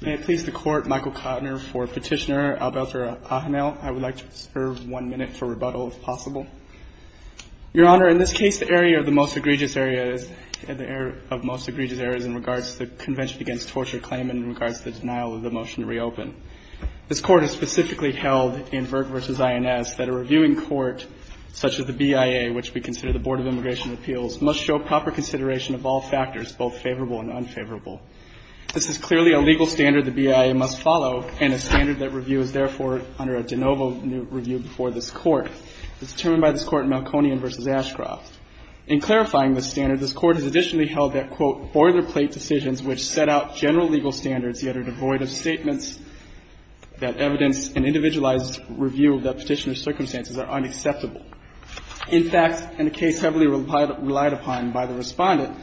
May it please the Court, Michael Kottner for Petitioner, Albelter Ajanel. I would like to serve one minute for rebuttal, if possible. Your Honor, in this case, the area of the most egregious error is in regards to the Convention Against Torture claim in regards to the denial of the motion to reopen. This Court has specifically held in Vert v. INS that a reviewing court, such as the BIA, which we consider the Board of Immigration Appeals, must show proper consideration of all factors, both favorable and unfavorable. This is clearly a legal standard the BIA must follow, and a standard that review is therefore under a de novo review before this Court. It's determined by this Court in Malconian v. Ashcroft. In clarifying this standard, this Court has additionally held that, quote, boilerplate decisions which set out general legal standards yet are devoid of statements that evidence an individualized review of the petitioner's circumstances are unacceptable. In fact, in a case heavily relied upon by the Respondent,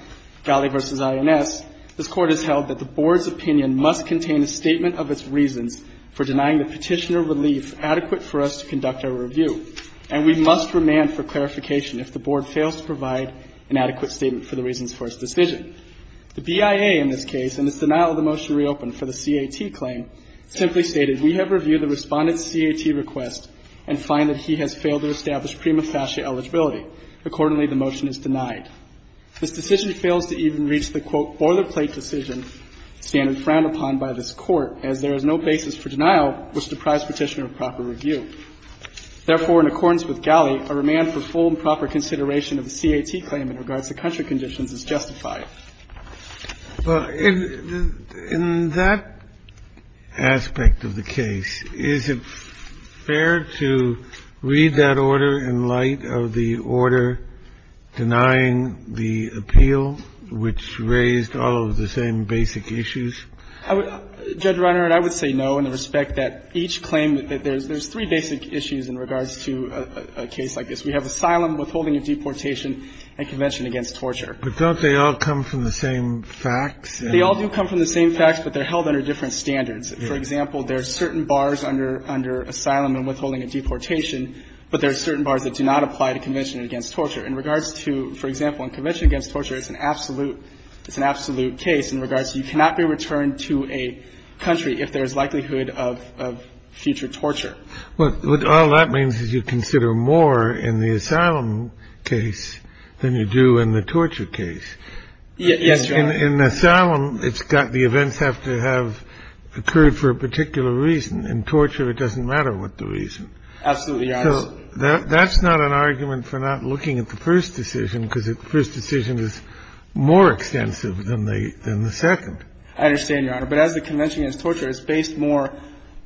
Galli v. INS, this Court has held that the Board's opinion must contain a statement of its reasons for denying the petitioner relief adequate for us to conduct our review, and we must remand for clarification if the Board fails to provide an adequate statement for the reasons for its decision. The BIA in this case, in its denial of the motion to reopen for the CAT claim, simply stated, we have reviewed the Respondent's CAT request and find that he has failed to establish prima facie eligibility. Accordingly, the motion is denied. This decision fails to even reach the, quote, boilerplate decision standard frowned upon by this Court, as there is no basis for denial which deprives the petitioner of proper review. Therefore, in accordance with Galli, a remand for full and proper consideration of the CAT claim in regards to country conditions is justified. Kennedy. Well, in that aspect of the case, is it fair to read that order in light of the order denying the appeal, which raised all of the same basic issues? Judge Reiner, I would say no in respect that each claim that there's three basic issues in regards to a case like this. We have asylum, withholding of deportation, and convention against torture. But don't they all come from the same facts? They all do come from the same facts, but they're held under different standards. For example, there are certain bars under asylum and withholding of deportation, but there are certain bars that do not apply to convention against torture. In regards to, for example, in convention against torture, it's an absolute case in regards to you cannot be returned to a country if there is likelihood of future torture. Well, all that means is you consider more in the asylum case than you do in the torture case. Yes, Your Honor. In asylum, it's got the events have to have occurred for a particular reason. In torture, it doesn't matter what the reason. Absolutely, Your Honor. So that's not an argument for not looking at the first decision, because the first decision is more extensive than the second. I understand, Your Honor. But as the convention against torture is based more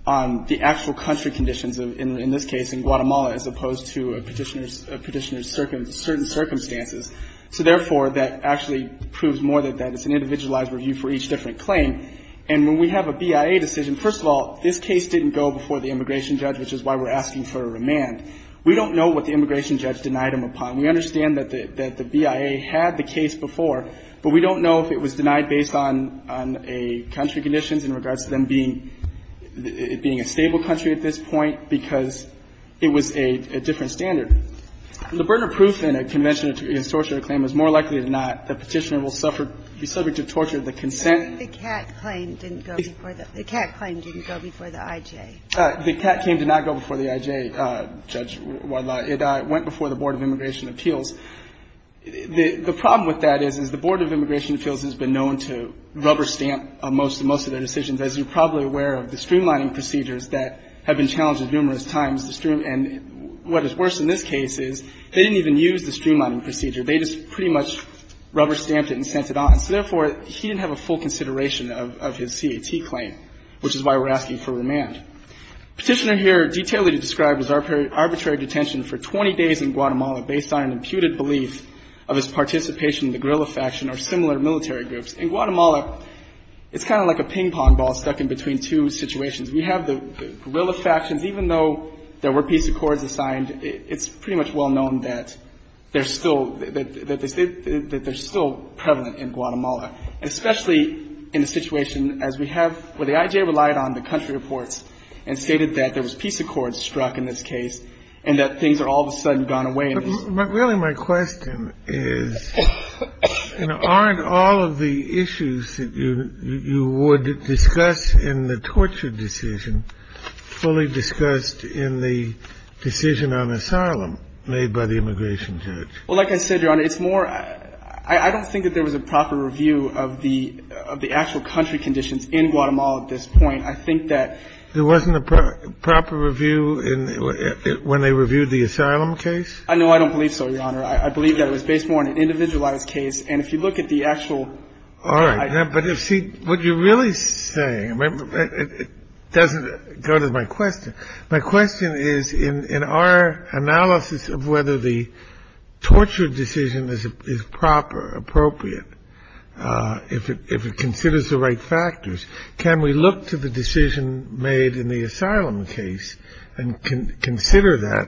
on the actual country conditions in this case, in Guatemala, as opposed to a Petitioner's certain circumstances. So therefore, that actually proves more that it's an individualized review for each different claim. And when we have a BIA decision, first of all, this case didn't go before the immigration judge, which is why we're asking for a remand. We don't know what the immigration judge denied him upon. We understand that the BIA had the case before, but we don't know if it was denied based on a country conditions in regards to them being a stable country at this point, because it was a different standard. The burden of proof in a convention against torture claim is more likely than not that Petitioner will suffer, be subject to torture of the consent. The Catt claim didn't go before the I.J. The Catt claim did not go before the I.J., Judge Wadlah. It went before the Board of Immigration Appeals. The problem with that is, is the Board of Immigration Appeals has been known to rubber stamp most of their decisions, as you're probably aware of the streamlining procedures that have been challenged numerous times. And what is worse in this case is they didn't even use the streamlining procedure. They just pretty much rubber stamped it and sent it on. So therefore, he didn't have a full consideration of his C.A.T. claim, which is why we're asking for remand. Petitioner here detailed what he described as arbitrary detention for 20 days in Guatemala based on an imputed belief of his participation in the guerrilla faction or similar military groups. In Guatemala, it's kind of like a ping-pong ball stuck in between two situations. We have the guerrilla factions. Even though there were peace accords assigned, it's pretty much well known that they're still prevalent in Guatemala, especially in the situation as we have where the I.J. relied on the country reports and stated that there was peace accords struck in this case and that things are all of a sudden gone away. But really my question is, you know, aren't all of the issues that you would discuss in the torture decision fully discussed in the decision on asylum made by the immigration judge? Well, like I said, Your Honor, it's more I don't think that there was a proper review of the actual country conditions in Guatemala at this point. I think that There wasn't a proper review when they reviewed the asylum case? No, I don't believe so, Your Honor. I believe that it was based more on an individualized case. And if you look at the actual All right. But see, what you're really saying doesn't go to my question. If it considers the right factors, can we look to the decision made in the asylum case and consider that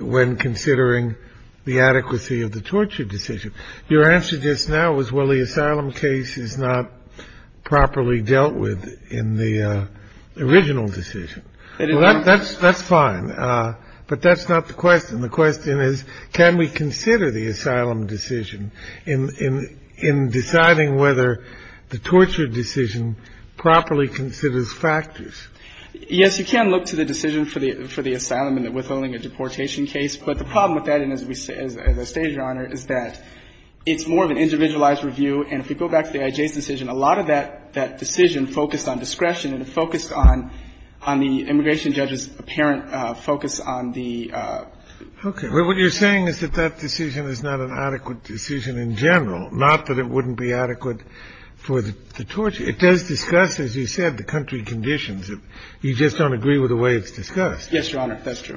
when considering the adequacy of the torture decision? Your answer just now was, well, the asylum case is not properly dealt with in the original decision. That's fine. But that's not the question. The question is, can we consider the asylum decision in deciding whether the torture decision properly considers factors? Yes, you can look to the decision for the asylum and the withholding a deportation case. But the problem with that, as I stated, Your Honor, is that it's more of an individualized review. And if we go back to the IJ's decision, a lot of that decision focused on discretion and focused on the immigration judge's apparent focus on the Okay. Well, what you're saying is that that decision is not an adequate decision in general, not that it wouldn't be adequate for the torture. It does discuss, as you said, the country conditions. You just don't agree with the way it's discussed. Yes, Your Honor. That's true.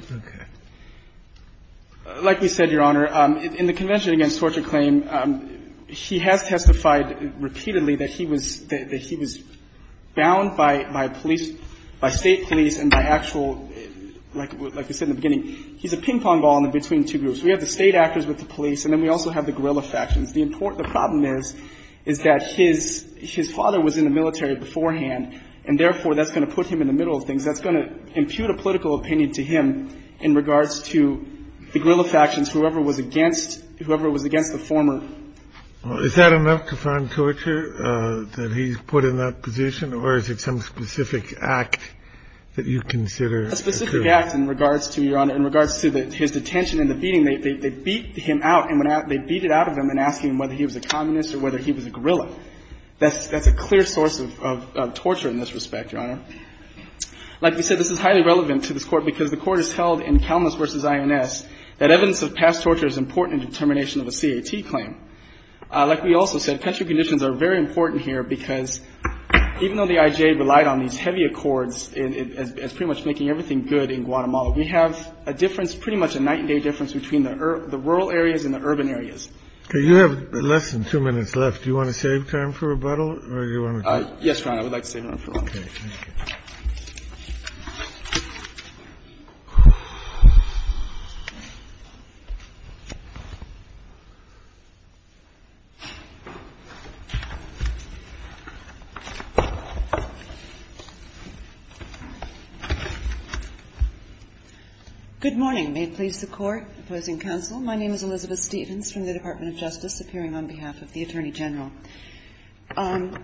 Okay. Like we said, Your Honor, in the Convention Against Torture Claim, he has testified that he was bound by state police and by actual, like I said in the beginning, he's a ping-pong ball in between two groups. We have the state actors with the police, and then we also have the guerrilla factions. The problem is, is that his father was in the military beforehand, and therefore, that's going to put him in the middle of things. That's going to impute a political opinion to him in regards to the guerrilla factions, whoever was against the former. Is that enough to find torture that he's put in that position, or is it some specific act that you consider? A specific act in regards to, Your Honor, in regards to his detention and the beating. They beat him out, and they beat it out of him in asking him whether he was a communist or whether he was a guerrilla. That's a clear source of torture in this respect, Your Honor. Like we said, this is highly relevant to this Court because the Court has held in Kalmas v. INS that evidence of past torture is important in determination of a C.A.T. claim. Like we also said, country conditions are very important here because even though the I.J. relied on these heavy accords as pretty much making everything good in Guatemala, we have a difference, pretty much a night and day difference between the rural areas and the urban areas. You have less than two minutes left. Do you want to save time for rebuttal? Yes, Your Honor, I would like to save time for rebuttal. Good morning. May it please the Court. Opposing counsel. My name is Elizabeth Stevens from the Department of Justice, appearing on behalf of the Attorney General. The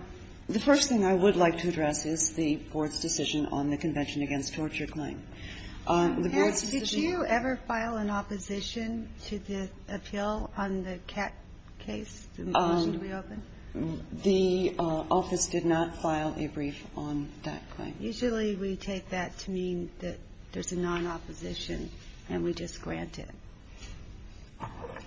first thing I would like to address is the Board's decision on the Convention against Torture claim. The Board's decision on the Convention against Torture claim. Did you ever file an opposition to the appeal on the C.A.T. case, the motion to reopen? The office did not file a brief on that claim. Usually we take that to mean that there's a non-opposition, and we just grant it.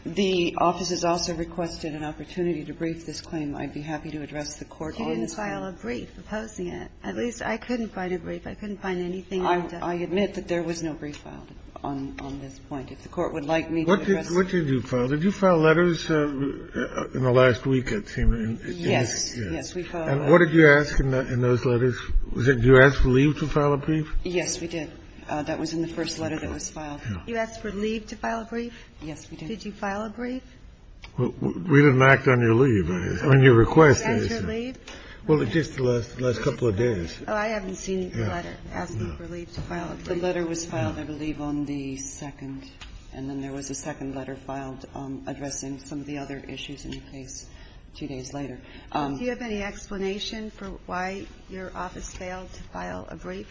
The office has also requested an opportunity to brief this claim. I'd be happy to address the Court on this claim. You didn't file a brief opposing it. At least I couldn't find a brief. I couldn't find anything. I admit that there was no brief filed on this point. If the Court would like me to address it. What did you file? Did you file letters in the last week, it seems? Yes. Yes, we filed. And what did you ask in those letters? Did you ask for leave to file a brief? Yes, we did. That was in the first letter that was filed. Did you ask for leave to file a brief? Yes, we did. Did you file a brief? We didn't act on your leave. On your request. Did you ask for leave? Well, just the last couple of days. Oh, I haven't seen the letter asking for leave to file a brief. The letter was filed, I believe, on the second, and then there was a second letter filed addressing some of the other issues in the case two days later. Do you have any explanation for why your office failed to file a brief?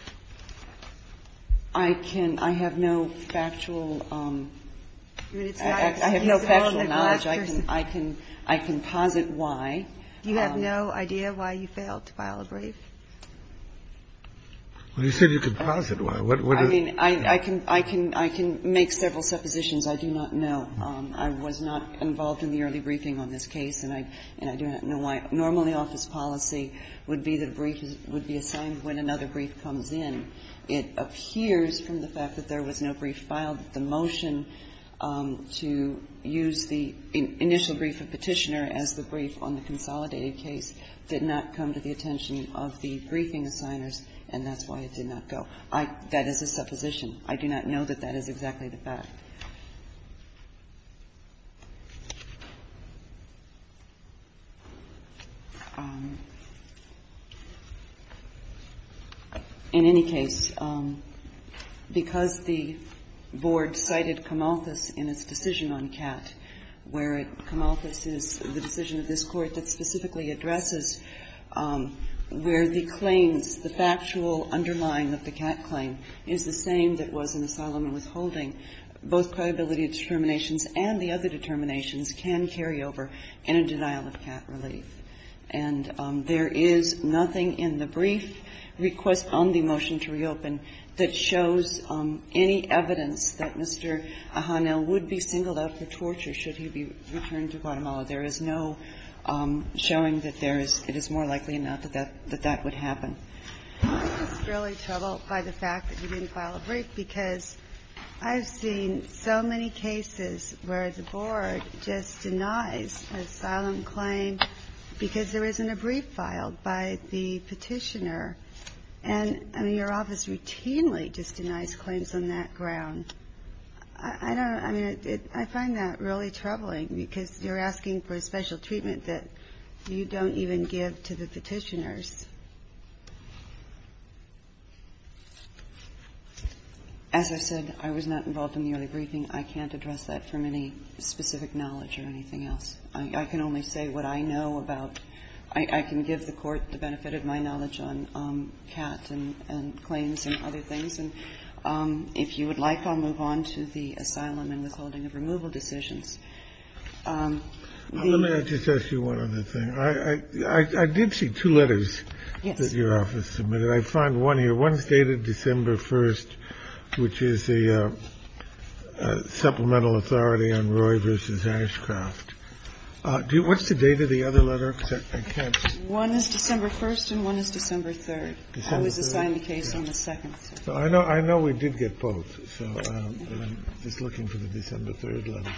I can't. I have no factual knowledge. I can posit why. Do you have no idea why you failed to file a brief? Well, you said you could posit why. I mean, I can make several suppositions. I do not know. I was not involved in the early briefing on this case, and I do not know why. Normally, office policy would be that a brief would be assigned when another brief comes in. It appears from the fact that there was no brief filed that the motion to use the initial brief of Petitioner as the brief on the consolidated case did not come to the attention of the briefing assigners, and that's why it did not go. That is a supposition. I do not know that that is exactly the fact. In any case, because the Board cited Camalthus in its decision on Catt, where Camalthus is the decision of this Court that specifically addresses where the claims, the factual underlying of the Catt claim, is the same that was in Asylum and Withholding, both credibility determinations and the other determinations can carry over in a denial of Catt relief. And there is nothing in the brief request on the motion to reopen that shows any evidence that Mr. Ahanel would be singled out for torture should he be returned to Guatemala. There is no showing that there is more likely or not that that would happen. I'm just really troubled by the fact that you didn't file a brief because I've seen so many cases where the Board just denies an asylum claim because there isn't a brief filed by the Petitioner, and your office routinely just denies claims on that ground. I find that really troubling because you're asking for a special treatment that you don't even give to the Petitioners. As I said, I was not involved in the early briefing. I can't address that from any specific knowledge or anything else. I can only say what I know about – I can give the Court the benefit of my knowledge on Catt and claims and other things, and if you would like, I'll move on to the Asylum and Withholding of Removal decisions. Let me just ask you one other thing. I did see two letters that your office submitted. I find one here. One is dated December 1st, which is the supplemental authority on Roy v. Ashcroft. What's the date of the other letter? I can't see. One is December 1st and one is December 3rd. I was assigned the case on the 2nd. I know we did get both. I'm just looking for the December 3rd letter.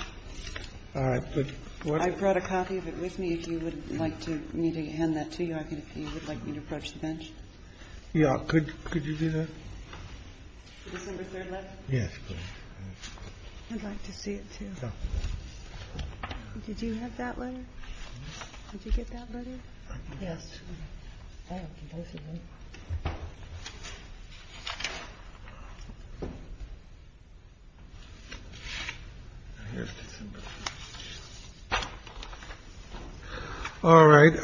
All right. I brought a copy of it with me. If you would like me to hand that to you, if you would like me to approach the bench. Yeah. Could you do that? The December 3rd letter? Yes, please. I'd like to see it, too. Did you have that letter? Did you get that letter? Yes. All right.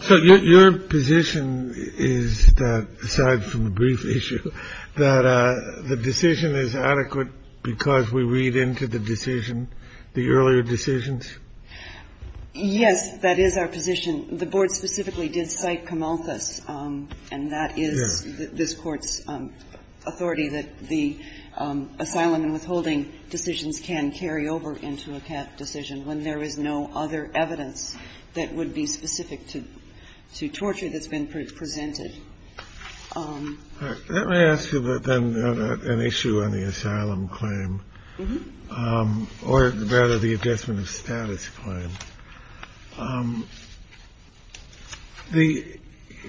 So your position is, aside from the brief issue, that the decision is adequate because we read into the decision, the earlier decisions? Yes, that is our position. The board specifically did cite Camalthus, and that is this Court's authority that the asylum and withholding decisions can carry over into a CAP decision when there is no other evidence that would be specific to torture that's been presented. All right. The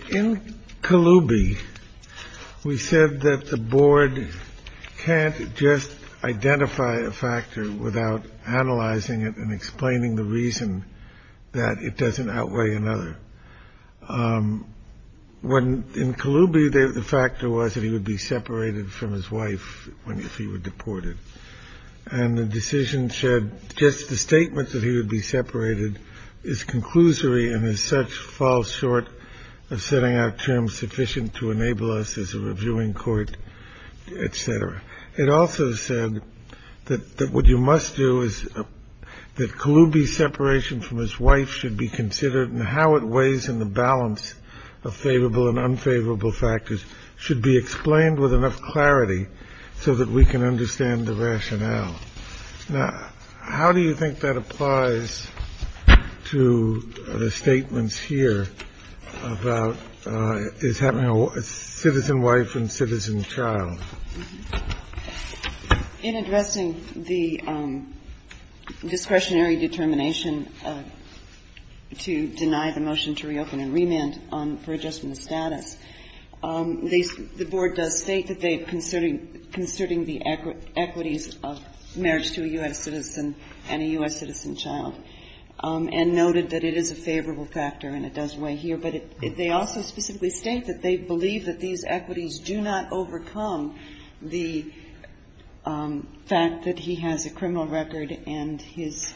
in Colubi, we said that the board can't just identify a factor without analyzing it and explaining the reason that it doesn't outweigh another. When in Colubi, the factor was that he would be separated from his wife if he were deported. And the decision said just the statement that he would be separated is conclusory and as such falls short of setting out terms sufficient to enable us as a reviewing court, et cetera. It also said that what you must do is that Colubi's separation from his wife should be considered and how it weighs in the balance of favorable and unfavorable factors should be explained with enough clarity so that we can understand the rationale. Now, how do you think that applies to the statements here about is having a citizen wife and citizen child? In addressing the discretionary determination to deny the motion to reopen and remand for adjustment of status, the board does state that they are considering the equities of marriage to a U.S. citizen and a U.S. citizen child and noted that it is a favorable factor and it does weigh here, but they also specifically state that they believe that these equities do not overcome the fact that he has a criminal record and his,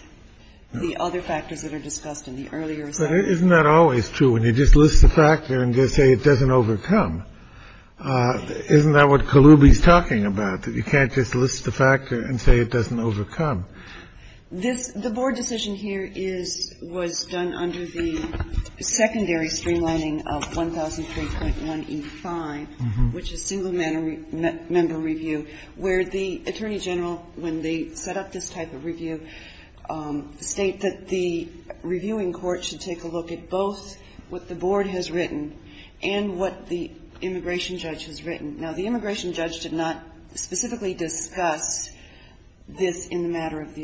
the other factors that are discussed in the earlier assessment. But isn't that always true when you just list the factor and just say it doesn't overcome? Isn't that what Colubi's talking about, that you can't just list the factor and say it doesn't overcome? This, the board decision here is, was done under the secondary streamlining of 1003.1E5, which is single-member review, where the attorney general, when they set up this type of review, state that the reviewing court should take a look at both what the board has written and what the immigration judge has written. Now, the immigration judge did not specifically discuss this in the matter of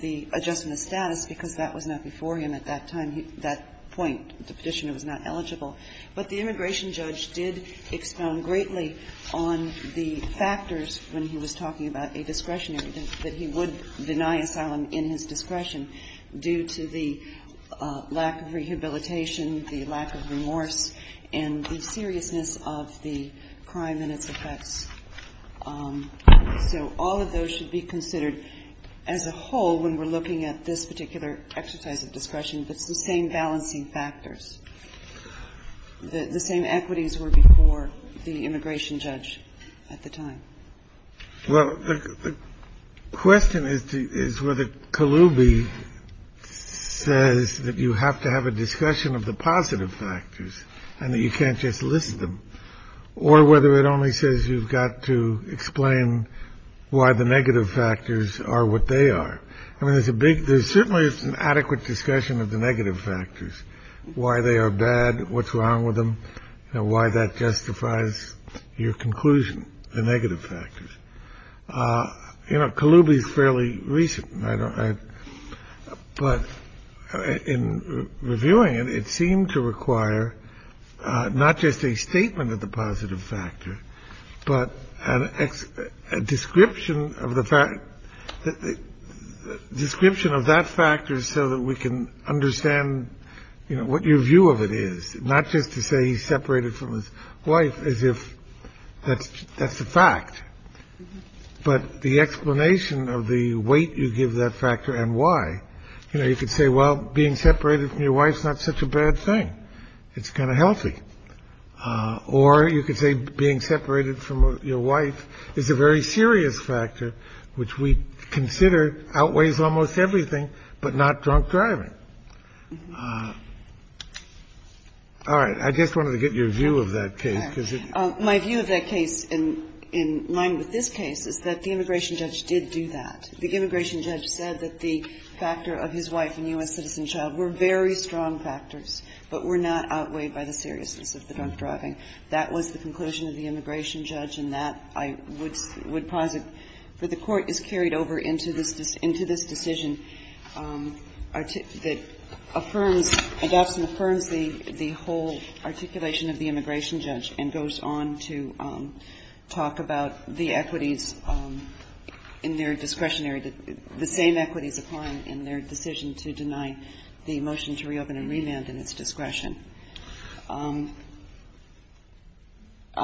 the adjustment of status because that was not before him at that time, that point, the petitioner was not eligible. But the immigration judge did expound greatly on the factors when he was talking about a discretionary, that he would deny asylum in his discretion due to the lack of rehabilitation, the lack of remorse, and the seriousness of the crime and its effects. So all of those should be considered as a whole when we're looking at this particular exercise of discretion, but it's the same balancing factors. The same equities were before the immigration judge at the time. Well, the question is, is whether Kaloubi says that you have to have a discussion of the positive factors and that you can't just list them or whether it only says you've got to explain why the negative factors are what they are. I mean, there's a big there's certainly an adequate discussion of the negative factors, why they are bad, what's wrong with them, and why that justifies your conclusion, the negative factors. You know, Kaloubi is fairly recent. But in reviewing it, it seemed to require not just a statement of the positive factor, but a description of the fact that the description of that factor so that we can understand what your view of it is, not just to say he's separated from his wife, as if that's the fact. But the explanation of the weight you give that factor and why, you know, you could say, well, being separated from your wife is not such a bad thing. It's kind of healthy. Or you could say being separated from your wife is a very serious factor, which we consider outweighs almost everything, but not drunk driving. All right. I just wanted to get your view of that case, because it's. My view of that case in line with this case is that the immigration judge did do that. The immigration judge said that the factor of his wife and U.S. citizen child were very strong factors, but were not outweighed by the seriousness of the drunk driving. That was the conclusion of the immigration judge. And that, I would posit, that the Court has carried over into this decision that affirms, adopts and affirms the whole articulation of the immigration judge and goes on to talk about the equities in their discretionary, the same equities applied in their decision to deny the motion to reopen and remand in its discretion. I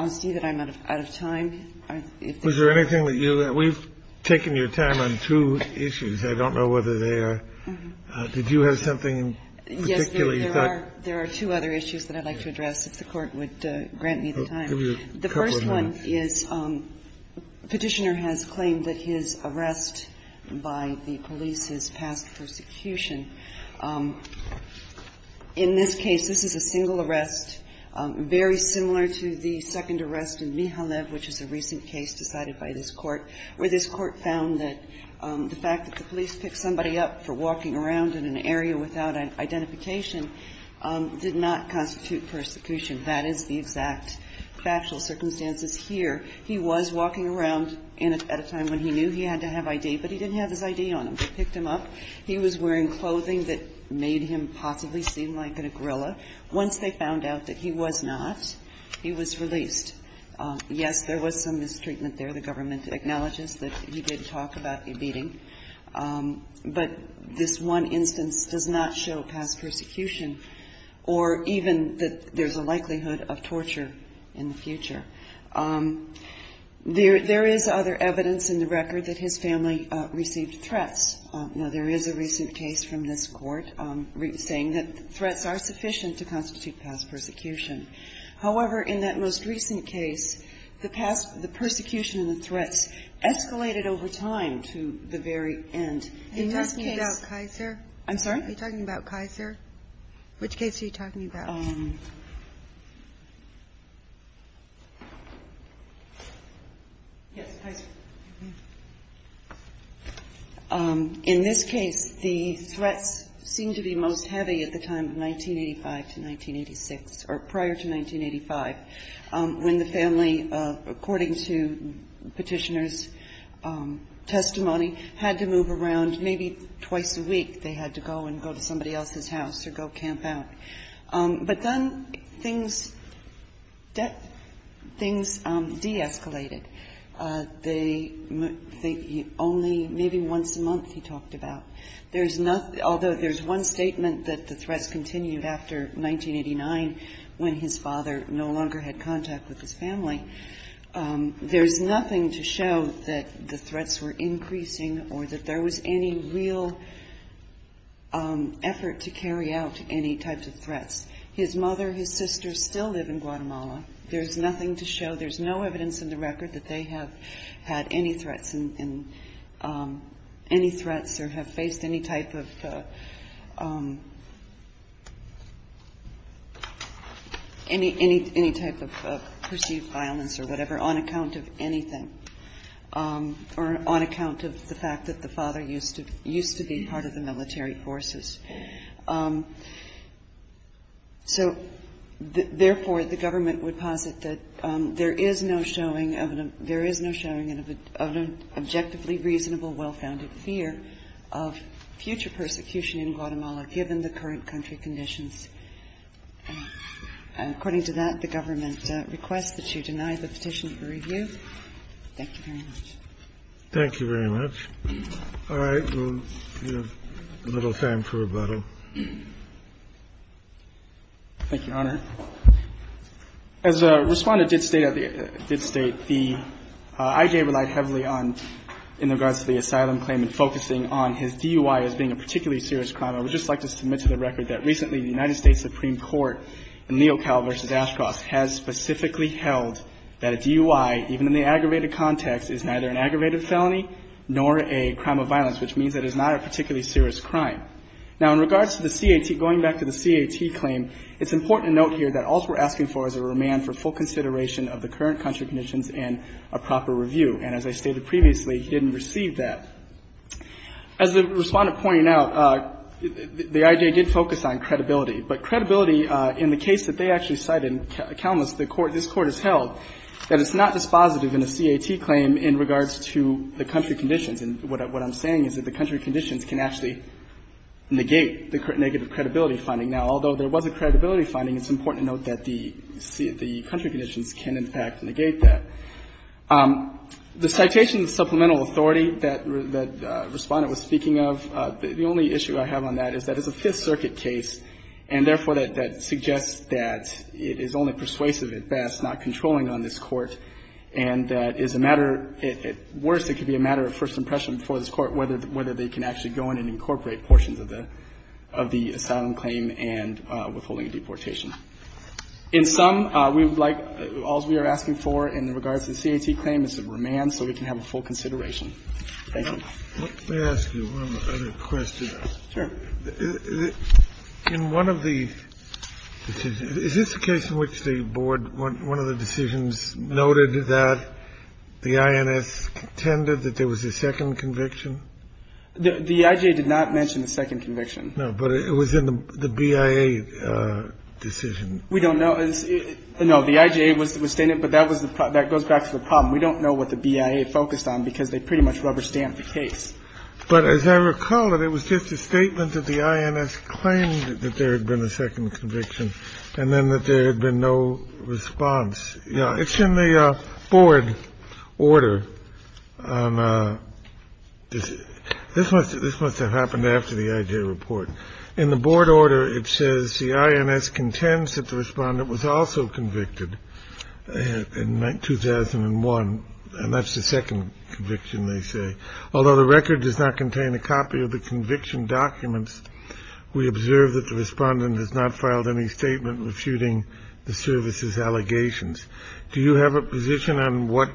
see that I'm out of time. If there's anything that you. We've taken your time on two issues. I don't know whether they are. Did you have something in particular you thought. Yes. There are two other issues that I'd like to address, if the Court would grant me the time. Give you a couple of minutes. The first one is Petitioner has claimed that his arrest by the police is past persecution. In this case, this is a single arrest, very similar to the second arrest in Mihalev, which is a recent case decided by this Court, where this Court found that the fact that the police picked somebody up for walking around in an area without identification did not constitute persecution. That is the exact factual circumstances here. He was walking around at a time when he knew he had to have I.D., but he didn't have his I.D. on him. They picked him up. He was wearing clothing that made him possibly seem like a gorilla. Once they found out that he was not, he was released. Yes, there was some mistreatment there. The government acknowledges that he did talk about beating. But this one instance does not show past persecution or even that there's a likelihood of torture in the future. There is other evidence in the record that his family received threats. Now, there is a recent case from this Court saying that threats are sufficient to constitute past persecution. However, in that most recent case, the persecution and the threats escalated over time to the very end. In this case you're talking about Kaiser? I'm sorry? You're talking about Kaiser? Which case are you talking about? Yes, Kaiser. In this case, the threats seemed to be most heavy at the time of 1985 to 1986, or prior to 1985, when the family, according to Petitioner's testimony, had to move around maybe twice a week. They had to go and go to somebody else's house or go camp out. But then things de-escalated. They only, maybe once a month he talked about. There's nothing, although there's one statement that the threats continued after 1989 when his father no longer had contact with his family, there's nothing to show that the threats were increasing or that there was any real effort to carry out any types of threats. His mother, his sister still live in Guatemala. There's nothing to show, there's no evidence in the record that they have had any threats or have faced any type of perceived violence or whatever on account of anything, or on account of the fact that the father used to be part of the military forces. So, therefore, the government would posit that there is no showing, there is no showing of an objectively reasonable, well-founded fear of future persecution in Guatemala given the current country conditions. According to that, the government requests that you deny the petition for review. Thank you very much. Thank you very much. All right. We have a little time for rebuttal. Thank you, Your Honor. As Respondent did state, did state, the I.J. relied heavily on, in regards to the asylum claim, in focusing on his DUI as being a particularly serious crime. I would just like to submit to the record that recently the United States Supreme Court in Leocal v. Ashcroft has specifically held that a DUI, even in the aggravated context, is neither an aggravated felony nor a crime of violence, which means that it's not a particularly serious crime. Now, in regards to the CAT, going back to the CAT claim, it's important to note here that all we're asking for is a remand for full consideration of the current country conditions and a proper review. And as I stated previously, he didn't receive that. As the Respondent pointed out, the I.J. did focus on credibility. But credibility, in the case that they actually cited, countless, this Court has held that it's not dispositive in a CAT claim in regards to the country conditions. And what I'm saying is that the country conditions can actually negate the negative credibility finding. Now, although there was a credibility finding, it's important to note that the country conditions can, in fact, negate that. The citation of supplemental authority that Respondent was speaking of, the only issue I have on that is that it's a Fifth Circuit case and, therefore, that suggests that it is only persuasive at best, not controlling on this Court, and that is a matter at worst, it could be a matter of first impression before this Court whether they can actually go in and incorporate portions of the asylum claim and withholding a deportation. In sum, we would like, all we are asking for in regards to the CAT claim is a remand so we can have a full consideration. Thank you. Let me ask you one other question. Sure. In one of the decisions, is this a case in which the Board, one of the decisions noted that the INS contended that there was a second conviction? The IJA did not mention a second conviction. No, but it was in the BIA decision. We don't know. No, the IJA was stating it, but that goes back to the problem. We don't know what the BIA focused on because they pretty much rubber stamped the case. But as I recall it, it was just a statement that the INS claimed that there had been a second conviction and then that there had been no response. It's in the Board order. This must have happened after the IJA report. In the Board order, it says the INS contends that the Respondent was also convicted in 2001, and that's the second conviction, they say. Although the record does not contain a copy of the conviction documents, we observe that the Respondent has not filed any statement refuting the service's allegations. Do you have a position on what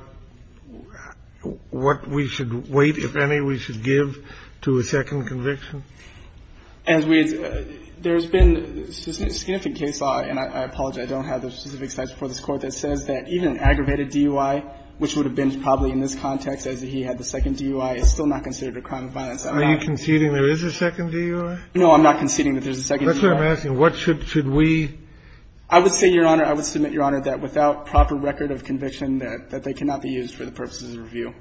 we should wait, if any, we should give to a second conviction? As we had said, there has been a significant case, and I apologize, I don't have the specific slides before this Court, that says that even an aggravated DUI, which would have been probably in this context as he had the second DUI, is still not considered a crime of violence at all. Are you conceding there is a second DUI? No, I'm not conceding that there's a second DUI. That's what I'm asking. What should we? I would say, Your Honor, I would submit, Your Honor, that without proper record of conviction, that they cannot be used for the purposes of review.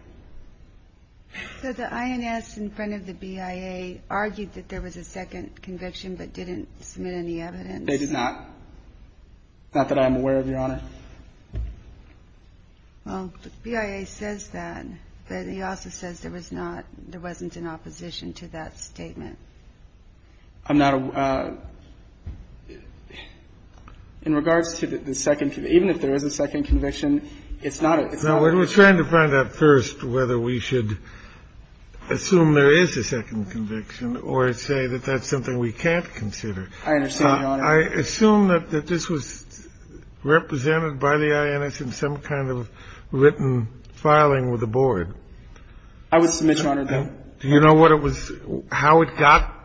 So the INS in front of the BIA argued that there was a second conviction but didn't submit any evidence. They did not? Not that I'm aware of, Your Honor. Well, the BIA says that, but it also says there was not – there wasn't an opposition to that statement. I'm not – in regards to the second – even if there is a second conviction, it's not a – it's not a question. We're trying to find out first whether we should assume there is a second conviction or say that that's something we can't consider. I understand, Your Honor. I assume that this was represented by the INS in some kind of written filing with the board. I would submit, Your Honor, that – Do you know what it was – how it got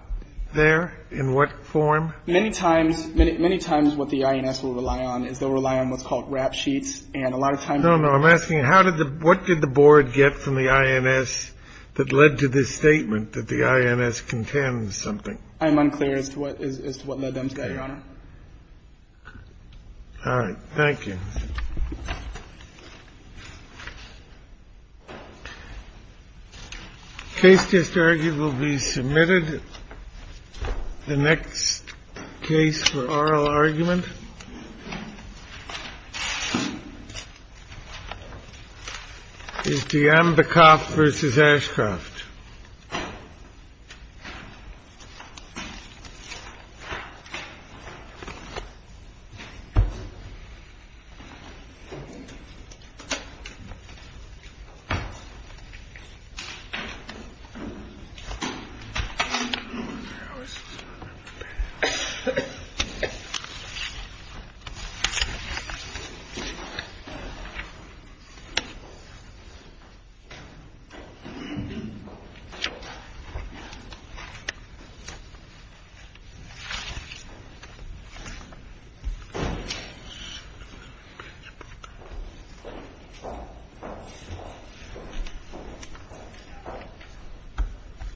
there? In what form? Many times – many times what the INS will rely on is they'll rely on what's called rap sheets, and a lot of times – No, no. I'm asking how did the – what did the board get from the INS that led to this I'm unclear as to what – as to what led them to that, Your Honor. All right. Thank you. Case just argued will be submitted. The next case for oral argument is the Ambacoff v. Ashcroft. Thank you, Your Honor. Thank you, Your Honor.